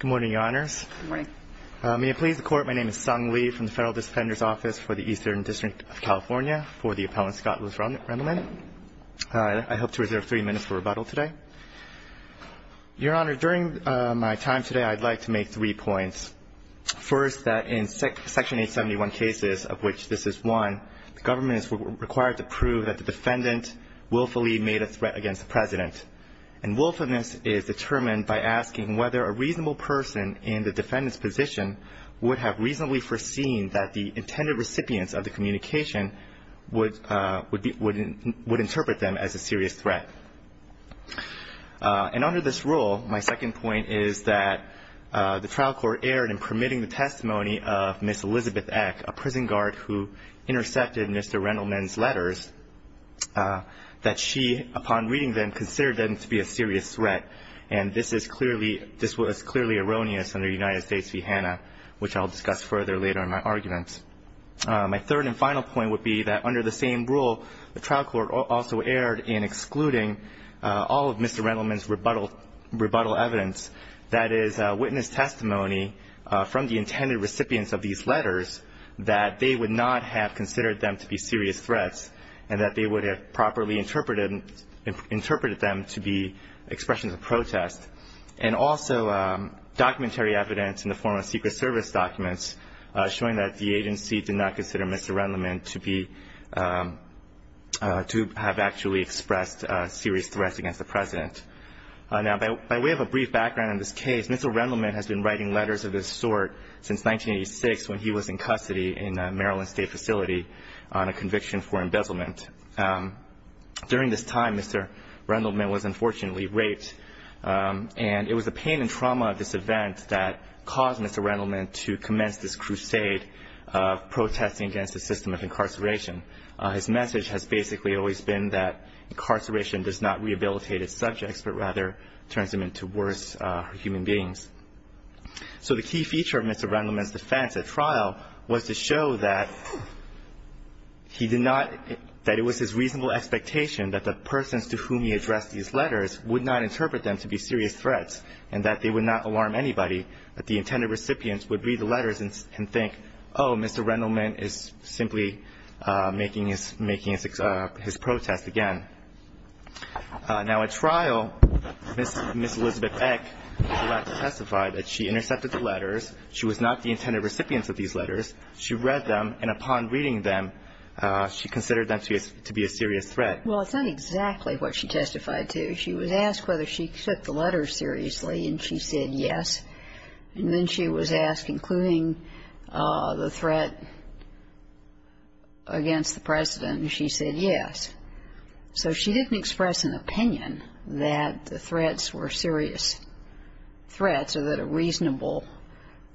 Good morning, Your Honors. Good morning. May it please the Court, my name is Sung Lee from the Federal District Defender's Office for the Eastern District of California for the Appellant Scott v. Rendelman. I hope to reserve three minutes for rebuttal today. Your Honor, during my time today, I'd like to make three points. First, that in Section 871 cases, of which this is one, willfully made a threat against the President. And willfulness is determined by asking whether a reasonable person in the defendant's position would have reasonably foreseen that the intended recipients of the communication would interpret them as a serious threat. And under this rule, my second point is that the trial court erred in permitting the testimony of Ms. Elizabeth Eck, that she, upon reading them, considered them to be a serious threat. And this was clearly erroneous under United States v. Hanna, which I'll discuss further later in my argument. My third and final point would be that under the same rule, the trial court also erred in excluding all of Mr. Rendelman's rebuttal evidence, that is, witness testimony from the intended recipients of these letters, that they would not have considered them to be serious threats and that they would have properly interpreted them to be expressions of protest, and also documentary evidence in the form of Secret Service documents showing that the agency did not consider Mr. Rendelman to have actually expressed serious threats against the President. Now, by way of a brief background on this case, Mr. Rendelman has been writing letters of this sort since 1986 when he was in custody in a Maryland state facility on a conviction for embezzlement. During this time, Mr. Rendelman was unfortunately raped, and it was the pain and trauma of this event that caused Mr. Rendelman to commence this crusade of protesting against the system of incarceration. His message has basically always been that incarceration does not rehabilitate its subjects, but rather turns them into worse human beings. So the key feature of Mr. Rendelman's defense at trial was to show that he did not – that it was his reasonable expectation that the persons to whom he addressed these letters would not interpret them to be serious threats and that they would not alarm anybody, that the intended recipients would read the letters and think, oh, Mr. Rendelman is simply making his protest again. Now, at trial, Ms. Elizabeth Eck was allowed to testify that she intercepted the letters. She was not the intended recipient of these letters. She read them, and upon reading them, she considered them to be a serious threat. Well, it's not exactly what she testified to. She was asked whether she took the letters seriously, and she said yes. And then she was asked, including the threat against the President, and she said yes. So she didn't express an opinion that the threats were serious threats or that a reasonable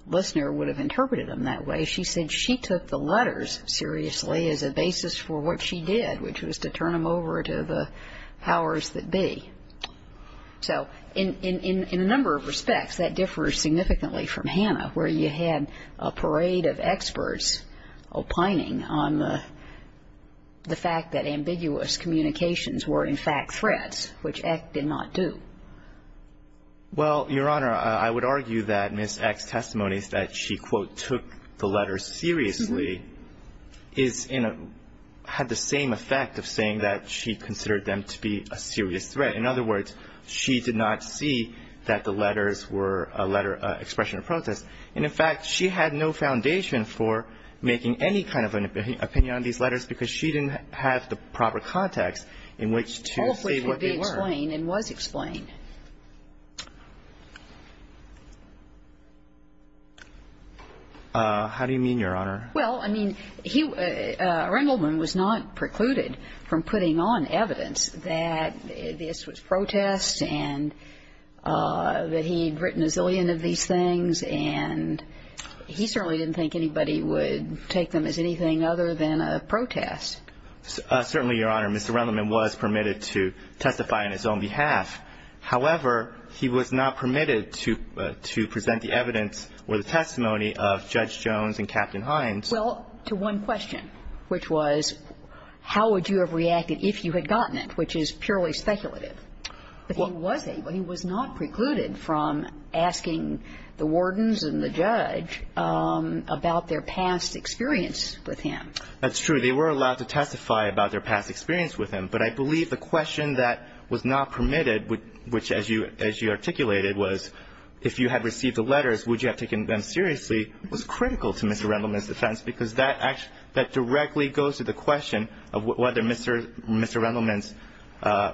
listener would have interpreted them that way. She said she took the letters seriously as a basis for what she did, which was to turn them over to the powers that be. So in a number of respects, that differs significantly from Hannah, where you had a parade of experts opining on the fact that ambiguous communications were, in fact, threats, which Eck did not do. Well, Your Honor, I would argue that Ms. Eck's testimony is that she, quote, took the letters seriously, had the same effect of saying that she considered them to be a serious threat. But in other words, she did not see that the letters were a letter expression of protest. And in fact, she had no foundation for making any kind of an opinion on these letters because she didn't have the proper context in which to say what they were. All of which would be explained and was explained. How do you mean, Your Honor? Well, I mean, he, Rendleman was not precluded from putting on evidence that this was protest and that he'd written a zillion of these things. And he certainly didn't think anybody would take them as anything other than a protest. Certainly, Your Honor, Mr. Rendleman was permitted to testify on his own behalf. However, he was not permitted to present the evidence or the testimony of Judge Jones and Captain Hines. Well, to one question, which was how would you have reacted if you had gotten it, which is purely speculative. But he was able. He was not precluded from asking the wardens and the judge about their past experience with him. That's true. They were allowed to testify about their past experience with him. But I believe the question that was not permitted, which, as you articulated, was if you had received the letters, would you have taken them seriously, was critical to Mr. Rendleman's defense. Because that directly goes to the question of whether Mr. Rendleman's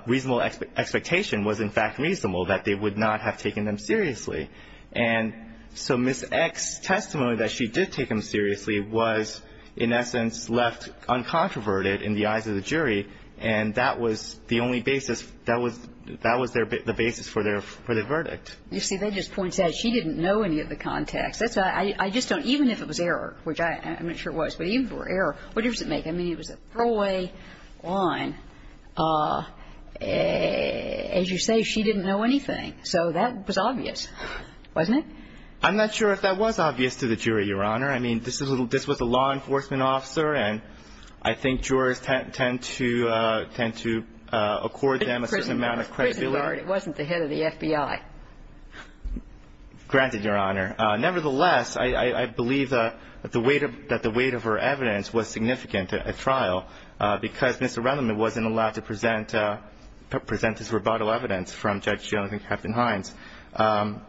reasonable expectation was, in fact, reasonable, that they would not have taken them seriously. And so Ms. Eck's testimony that she did take him seriously was, in essence, left uncontroverted in the eyes of the jury. And that was the only basis. That was the basis for the verdict. You see, that just points out she didn't know any of the context. Even if it was error, which I'm not sure it was, but even for error, what does it make? I mean, it was a throwaway line. As you say, she didn't know anything. So that was obvious, wasn't it? I'm not sure if that was obvious to the jury, Your Honor. I mean, this was a law enforcement officer, and I think jurors tend to accord them a certain amount of credibility. It wasn't the head of the FBI. Granted, Your Honor. Nevertheless, I believe that the weight of her evidence was significant at trial because Mr. Rendleman wasn't allowed to present his rebuttal evidence from Judge Jones and Captain Hines. And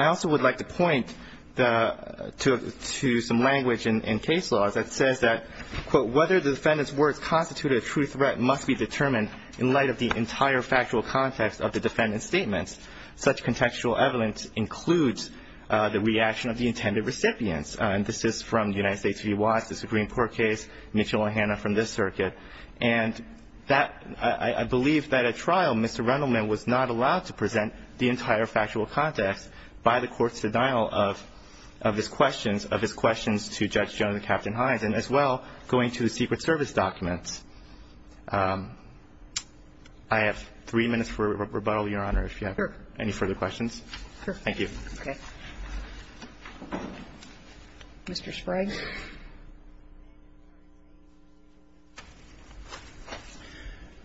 I also would like to point to some language in case law that says that, quote, whether the defendant's words constituted a true threat must be determined in light of the entire factual context of the defendant's statements. Such contextual evidence includes the reaction of the intended recipients. And this is from the United States v. Watts. It's a Greenport case, Mitchell and Hanna from this circuit. And I believe that at trial, Mr. Rendleman was not allowed to present the entire factual context by the court's denial of his questions to Judge Jones and Captain Hines, and as well going to the Secret Service documents. I have three minutes for rebuttal, Your Honor, if you have any further questions. Sure. Thank you. Okay. Mr. Sprague.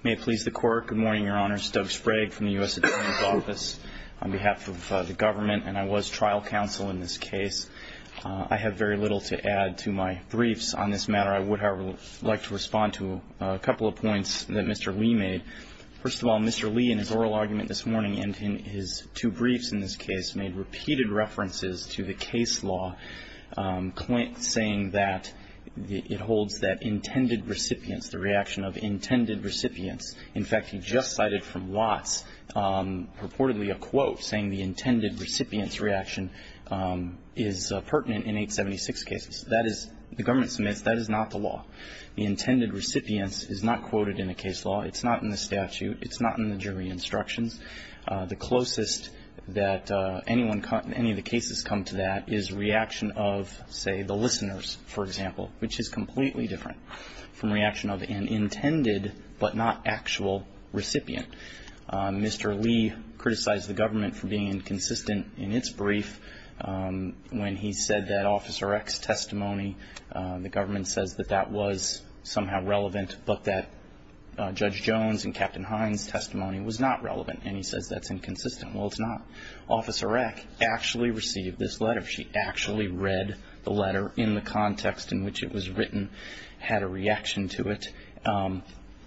May it please the Court. Good morning, Your Honor. Stoke Sprague from the U.S. Attorney's Office. On behalf of the government, and I was trial counsel in this case, I have very little to add to my briefs on this matter. I would, however, like to respond to a couple of points that Mr. Lee made. First of all, Mr. Lee in his oral argument this morning and in his two briefs in this case made repeated references to the case law, saying that it holds that intended recipients, the reaction of intended recipients. In fact, he just cited from Watts purportedly a quote saying the intended recipient's reaction is pertinent in 876 cases. The government submits that is not the law. The intended recipient's is not quoted in the case law. It's not in the statute. It's not in the jury instructions. The closest that any of the cases come to that is reaction of, say, the listeners, for example, which is completely different from reaction of an intended but not actual recipient. Mr. Lee criticized the government for being inconsistent in its brief when he said that Officer Eck's testimony, the government says that that was somehow relevant, but that Judge Jones and Captain Hines' testimony was not relevant, and he says that's inconsistent. Well, it's not. Officer Eck actually received this letter. She actually read the letter in the context in which it was written, had a reaction to it.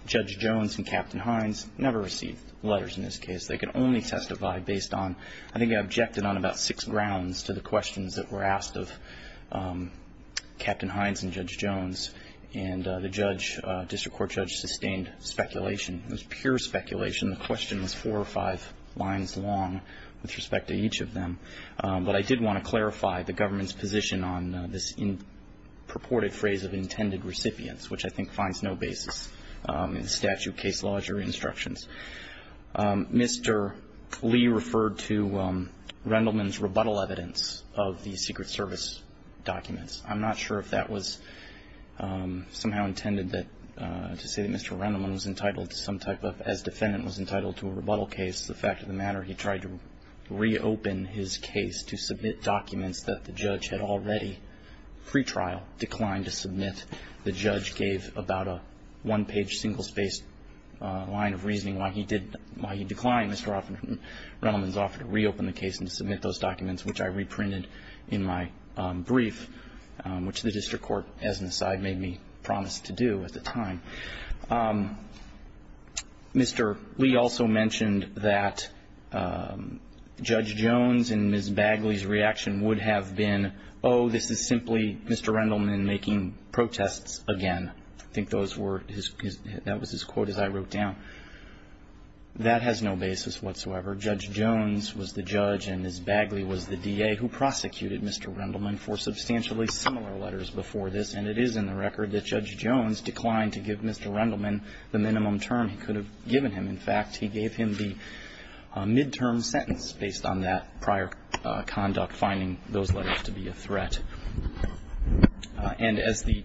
Judge Jones and Captain Hines never received letters in this case. They could only testify based on, I think, they objected on about six grounds to the questions that were asked of Captain Hines and Judge Jones. And the judge, district court judge, sustained speculation. It was pure speculation. The question was four or five lines long with respect to each of them. But I did want to clarify the government's position on this purported phrase of intended recipients, which I think finds no basis in statute, case laws, or instructions. Mr. Lee referred to Rendleman's rebuttal evidence of the Secret Service documents. I'm not sure if that was somehow intended to say that Mr. Rendleman was entitled to some type of, as defendant was entitled to a rebuttal case, the fact of the matter, he tried to reopen his case to submit documents that the judge had already, pre-trial, declined to submit. The judge gave about a one-page, single-spaced line of reasoning why he did, why he declined Mr. Rendleman's offer to reopen the case and to submit those documents, which I reprinted in my brief, which the district court, as an aside, made me promise to do at the time. Mr. Lee also mentioned that Judge Jones and Ms. Bagley's reaction would have been, oh, this is simply Mr. Rendleman making protests again. I think that was his quote as I wrote down. That has no basis whatsoever. Judge Jones was the judge and Ms. Bagley was the DA who prosecuted Mr. Rendleman for substantially similar letters before this, and it is in the record that Judge Jones declined to give Mr. Rendleman the minimum term he could have given him. In fact, he gave him the midterm sentence based on that prior conduct, finding those letters to be a threat. And as the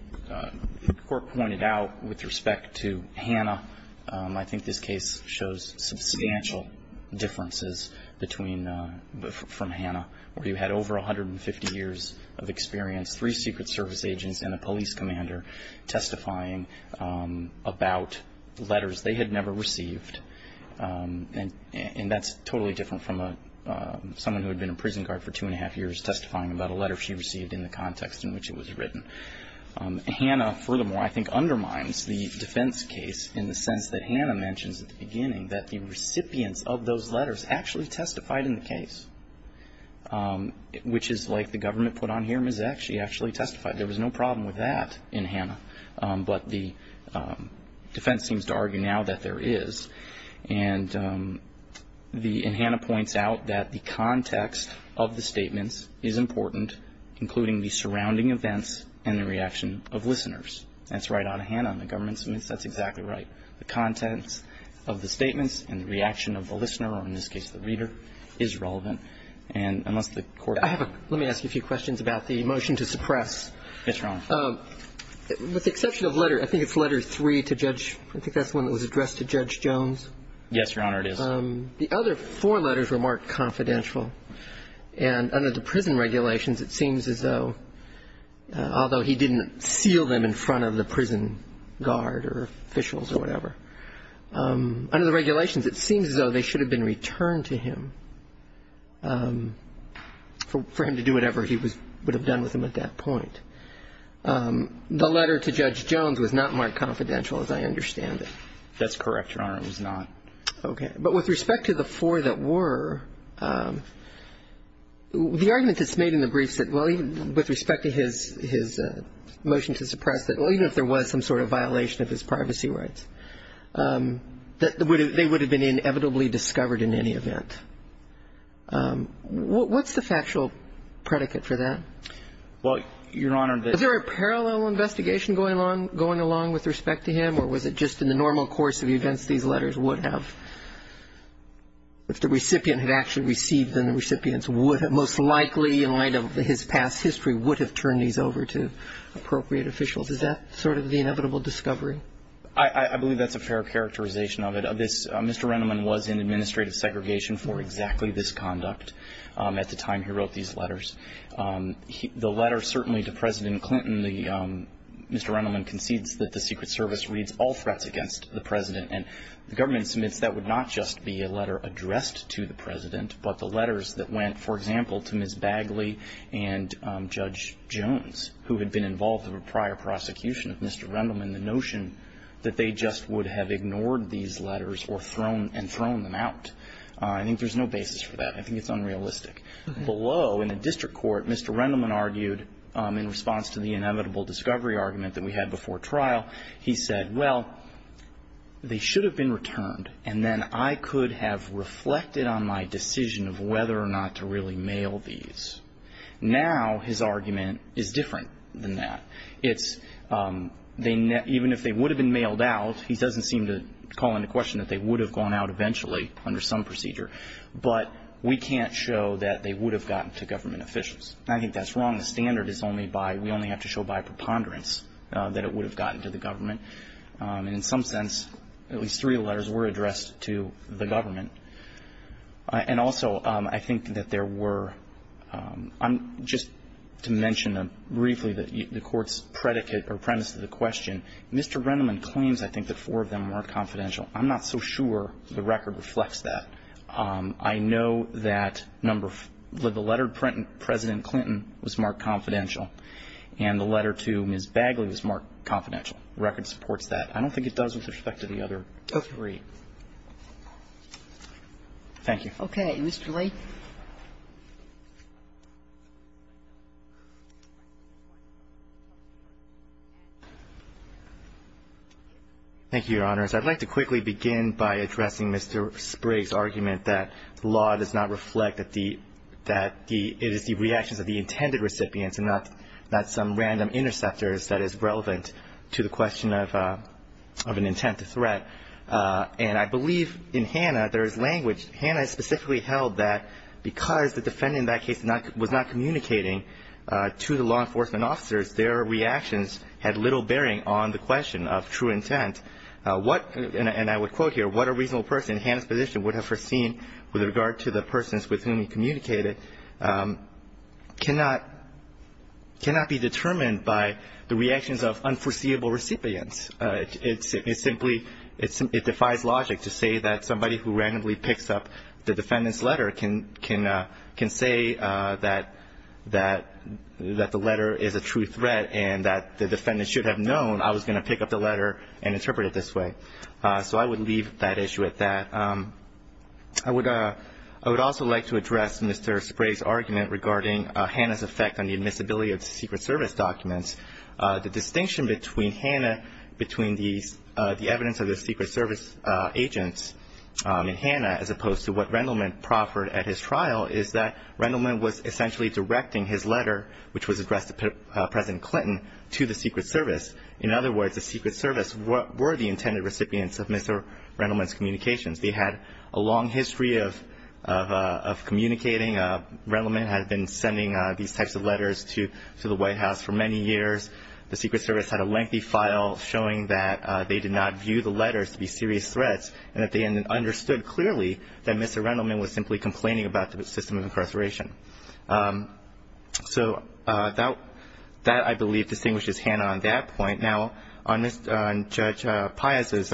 court pointed out with respect to Hanna, I think this case shows substantial differences from Hanna, where you had over 150 years of experience, three Secret Service agents and a police commander testifying about letters they had never received, and that's totally different from someone who had been a prison guard for two and a half years testifying about a letter she received in the context in which it was written. Hanna, furthermore, I think undermines the defense case in the sense that Hanna mentions at the beginning that the recipients of those letters actually testified in the case, which is like the government put on here, Ms. X, she actually testified. There was no problem with that in Hanna, but the defense seems to argue now that there is. And the – and Hanna points out that the context of the statements is important, including the surrounding events and the reaction of listeners. That's right out of Hanna in the government's midst. That's exactly right. The contents of the statements and the reaction of the listener, or in this case the reader, is relevant. And unless the Court – I have a – let me ask you a few questions about the motion to suppress. Yes, Your Honor. With the exception of letter – I think it's letter three to Judge – I think that's the one that was addressed to Judge Jones. Yes, Your Honor, it is. The other four letters were marked confidential. And under the prison regulations, it seems as though – although he didn't seal them in front of the prison guard or officials or whatever. Under the regulations, it seems as though they should have been returned to him for him to do whatever he would have done with them at that point. The letter to Judge Jones was not marked confidential, as I understand it. That's correct, Your Honor. It was not. Okay. But with respect to the four that were, the argument that's made in the briefs that, well, with respect to his motion to suppress, that even if there was some sort of violation of his privacy rights, that they would have been inevitably discovered in any event. What's the factual predicate for that? Well, Your Honor, the – Was there a parallel investigation going along with respect to him, or was it just in the normal course of events these letters would have? If the recipient had actually received them, the recipients would have most likely, in light of his past history, would have turned these over to appropriate officials. Is that sort of the inevitable discovery? I believe that's a fair characterization of it. Mr. Rendleman was in administrative segregation for exactly this conduct at the time he wrote these letters. The letter, certainly, to President Clinton, Mr. Rendleman concedes that the Secret Service reads all threats against the President, and the government submits that would not just be a letter addressed to the President, but the letters that went, for example, to Ms. Bagley and Judge Jones, who had been involved in a prior prosecution of Mr. Rendleman. And the notion that they just would have ignored these letters and thrown them out, I think there's no basis for that. I think it's unrealistic. Below, in the district court, Mr. Rendleman argued, in response to the inevitable discovery argument that we had before trial, he said, well, they should have been returned, and then I could have reflected on my decision of whether or not to really mail these. Now his argument is different than that. Even if they would have been mailed out, he doesn't seem to call into question that they would have gone out eventually under some procedure. But we can't show that they would have gotten to government officials. I think that's wrong. The standard is we only have to show by preponderance that it would have gotten to the government. In some sense, at least three letters were addressed to the government. And also, I think that there were, just to mention briefly, the court's predicate or premise to the question, Mr. Rendleman claims, I think, that four of them were confidential. I'm not so sure the record reflects that. I know that the letter to President Clinton was marked confidential, and the letter to Ms. Bagley was marked confidential. The record supports that. I don't think it does with respect to the other three. Okay. Thank you. Okay. Mr. Lee. Thank you, Your Honors. I'd like to quickly begin by addressing Mr. Sprigg's argument that law does not reflect that the it is the reactions of the intended recipients, and not some random interceptors that is relevant to the question of an intent to threat. And I believe in Hanna there is language. Hanna specifically held that because the defendant in that case was not communicating to the law enforcement officers, their reactions had little bearing on the question of true intent. And I would quote here, what a reasonable person in Hanna's position would have foreseen with regard to the persons with whom he communicated cannot be determined by the reactions of unforeseeable recipients. It simply defies logic to say that somebody who randomly picks up the defendant's letter can say that the letter is a true threat and that the defendant should have known I was going to pick up the letter and interpret it this way. So I would leave that issue at that. I would also like to address Mr. Sprigg's argument regarding Hanna's effect on the admissibility of the Secret Service documents. The distinction between Hanna, between the evidence of the Secret Service agents in Hanna, as opposed to what Rendleman proffered at his trial, is that Rendleman was essentially directing his letter, which was addressed to President Clinton, to the Secret Service. In other words, the Secret Service were the intended recipients of Mr. Rendleman's communications. They had a long history of communicating. Rendleman had been sending these types of letters to the White House for many years. The Secret Service had a lengthy file showing that they did not view the letters to be serious threats and that they understood clearly that Mr. Rendleman was simply complaining about the system of incarceration. So that, I believe, distinguishes Hanna on that point. Now, on Judge Pius's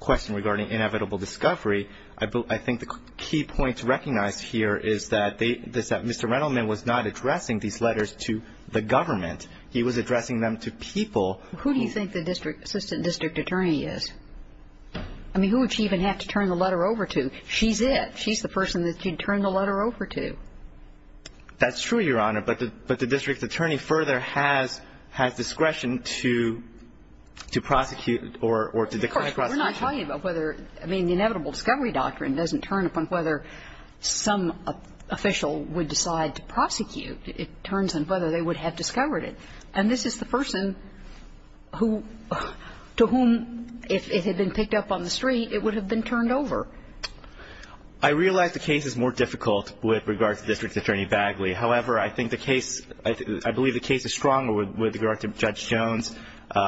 question regarding inevitable discovery, I think the key point to recognize here is that Mr. Rendleman was not addressing these letters to the government. He was addressing them to people. Who do you think the assistant district attorney is? I mean, who would she even have to turn the letter over to? She's it. That's true, Your Honor. But the district attorney further has discretion to prosecute or to decline prosecution. Of course. We're not talking about whether the inevitable discovery doctrine doesn't turn upon whether some official would decide to prosecute. It turns on whether they would have discovered it. And this is the person to whom, if it had been picked up on the street, it would have been turned over. I realize the case is more difficult with regard to District Attorney Bagley. However, I believe the case is stronger with regard to Judge Jones,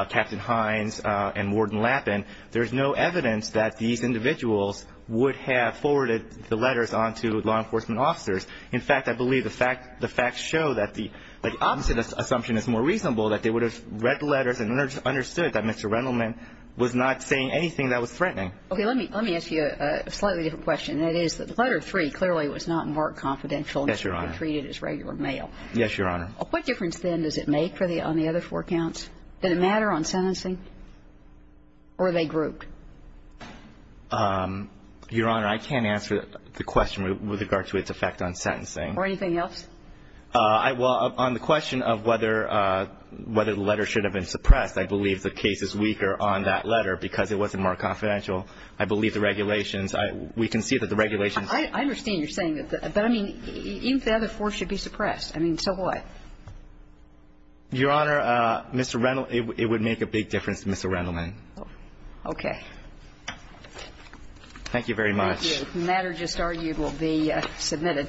Captain Hines, and Warden Lappin. There is no evidence that these individuals would have forwarded the letters on to law enforcement officers. In fact, I believe the facts show that the opposite assumption is more reasonable, that they would have read the letters and understood that Mr. Rendleman was not saying anything that was threatening. Okay. Let me ask you a slightly different question, and that is that the letter three clearly was not marked confidential. Yes, Your Honor. It was treated as regular mail. Yes, Your Honor. What difference, then, does it make on the other four counts? Did it matter on sentencing? Or were they grouped? Your Honor, I can't answer the question with regard to its effect on sentencing. Or anything else? Well, on the question of whether the letter should have been suppressed, I believe the case is weaker on that letter because it wasn't marked confidential. I believe the regulations, we can see that the regulations. I understand you're saying that. But, I mean, even if the other four should be suppressed, I mean, so what? Your Honor, Mr. Rendleman, it would make a big difference to Mr. Rendleman. Okay. Thank you very much. Thank you. The matter just argued will be submitted.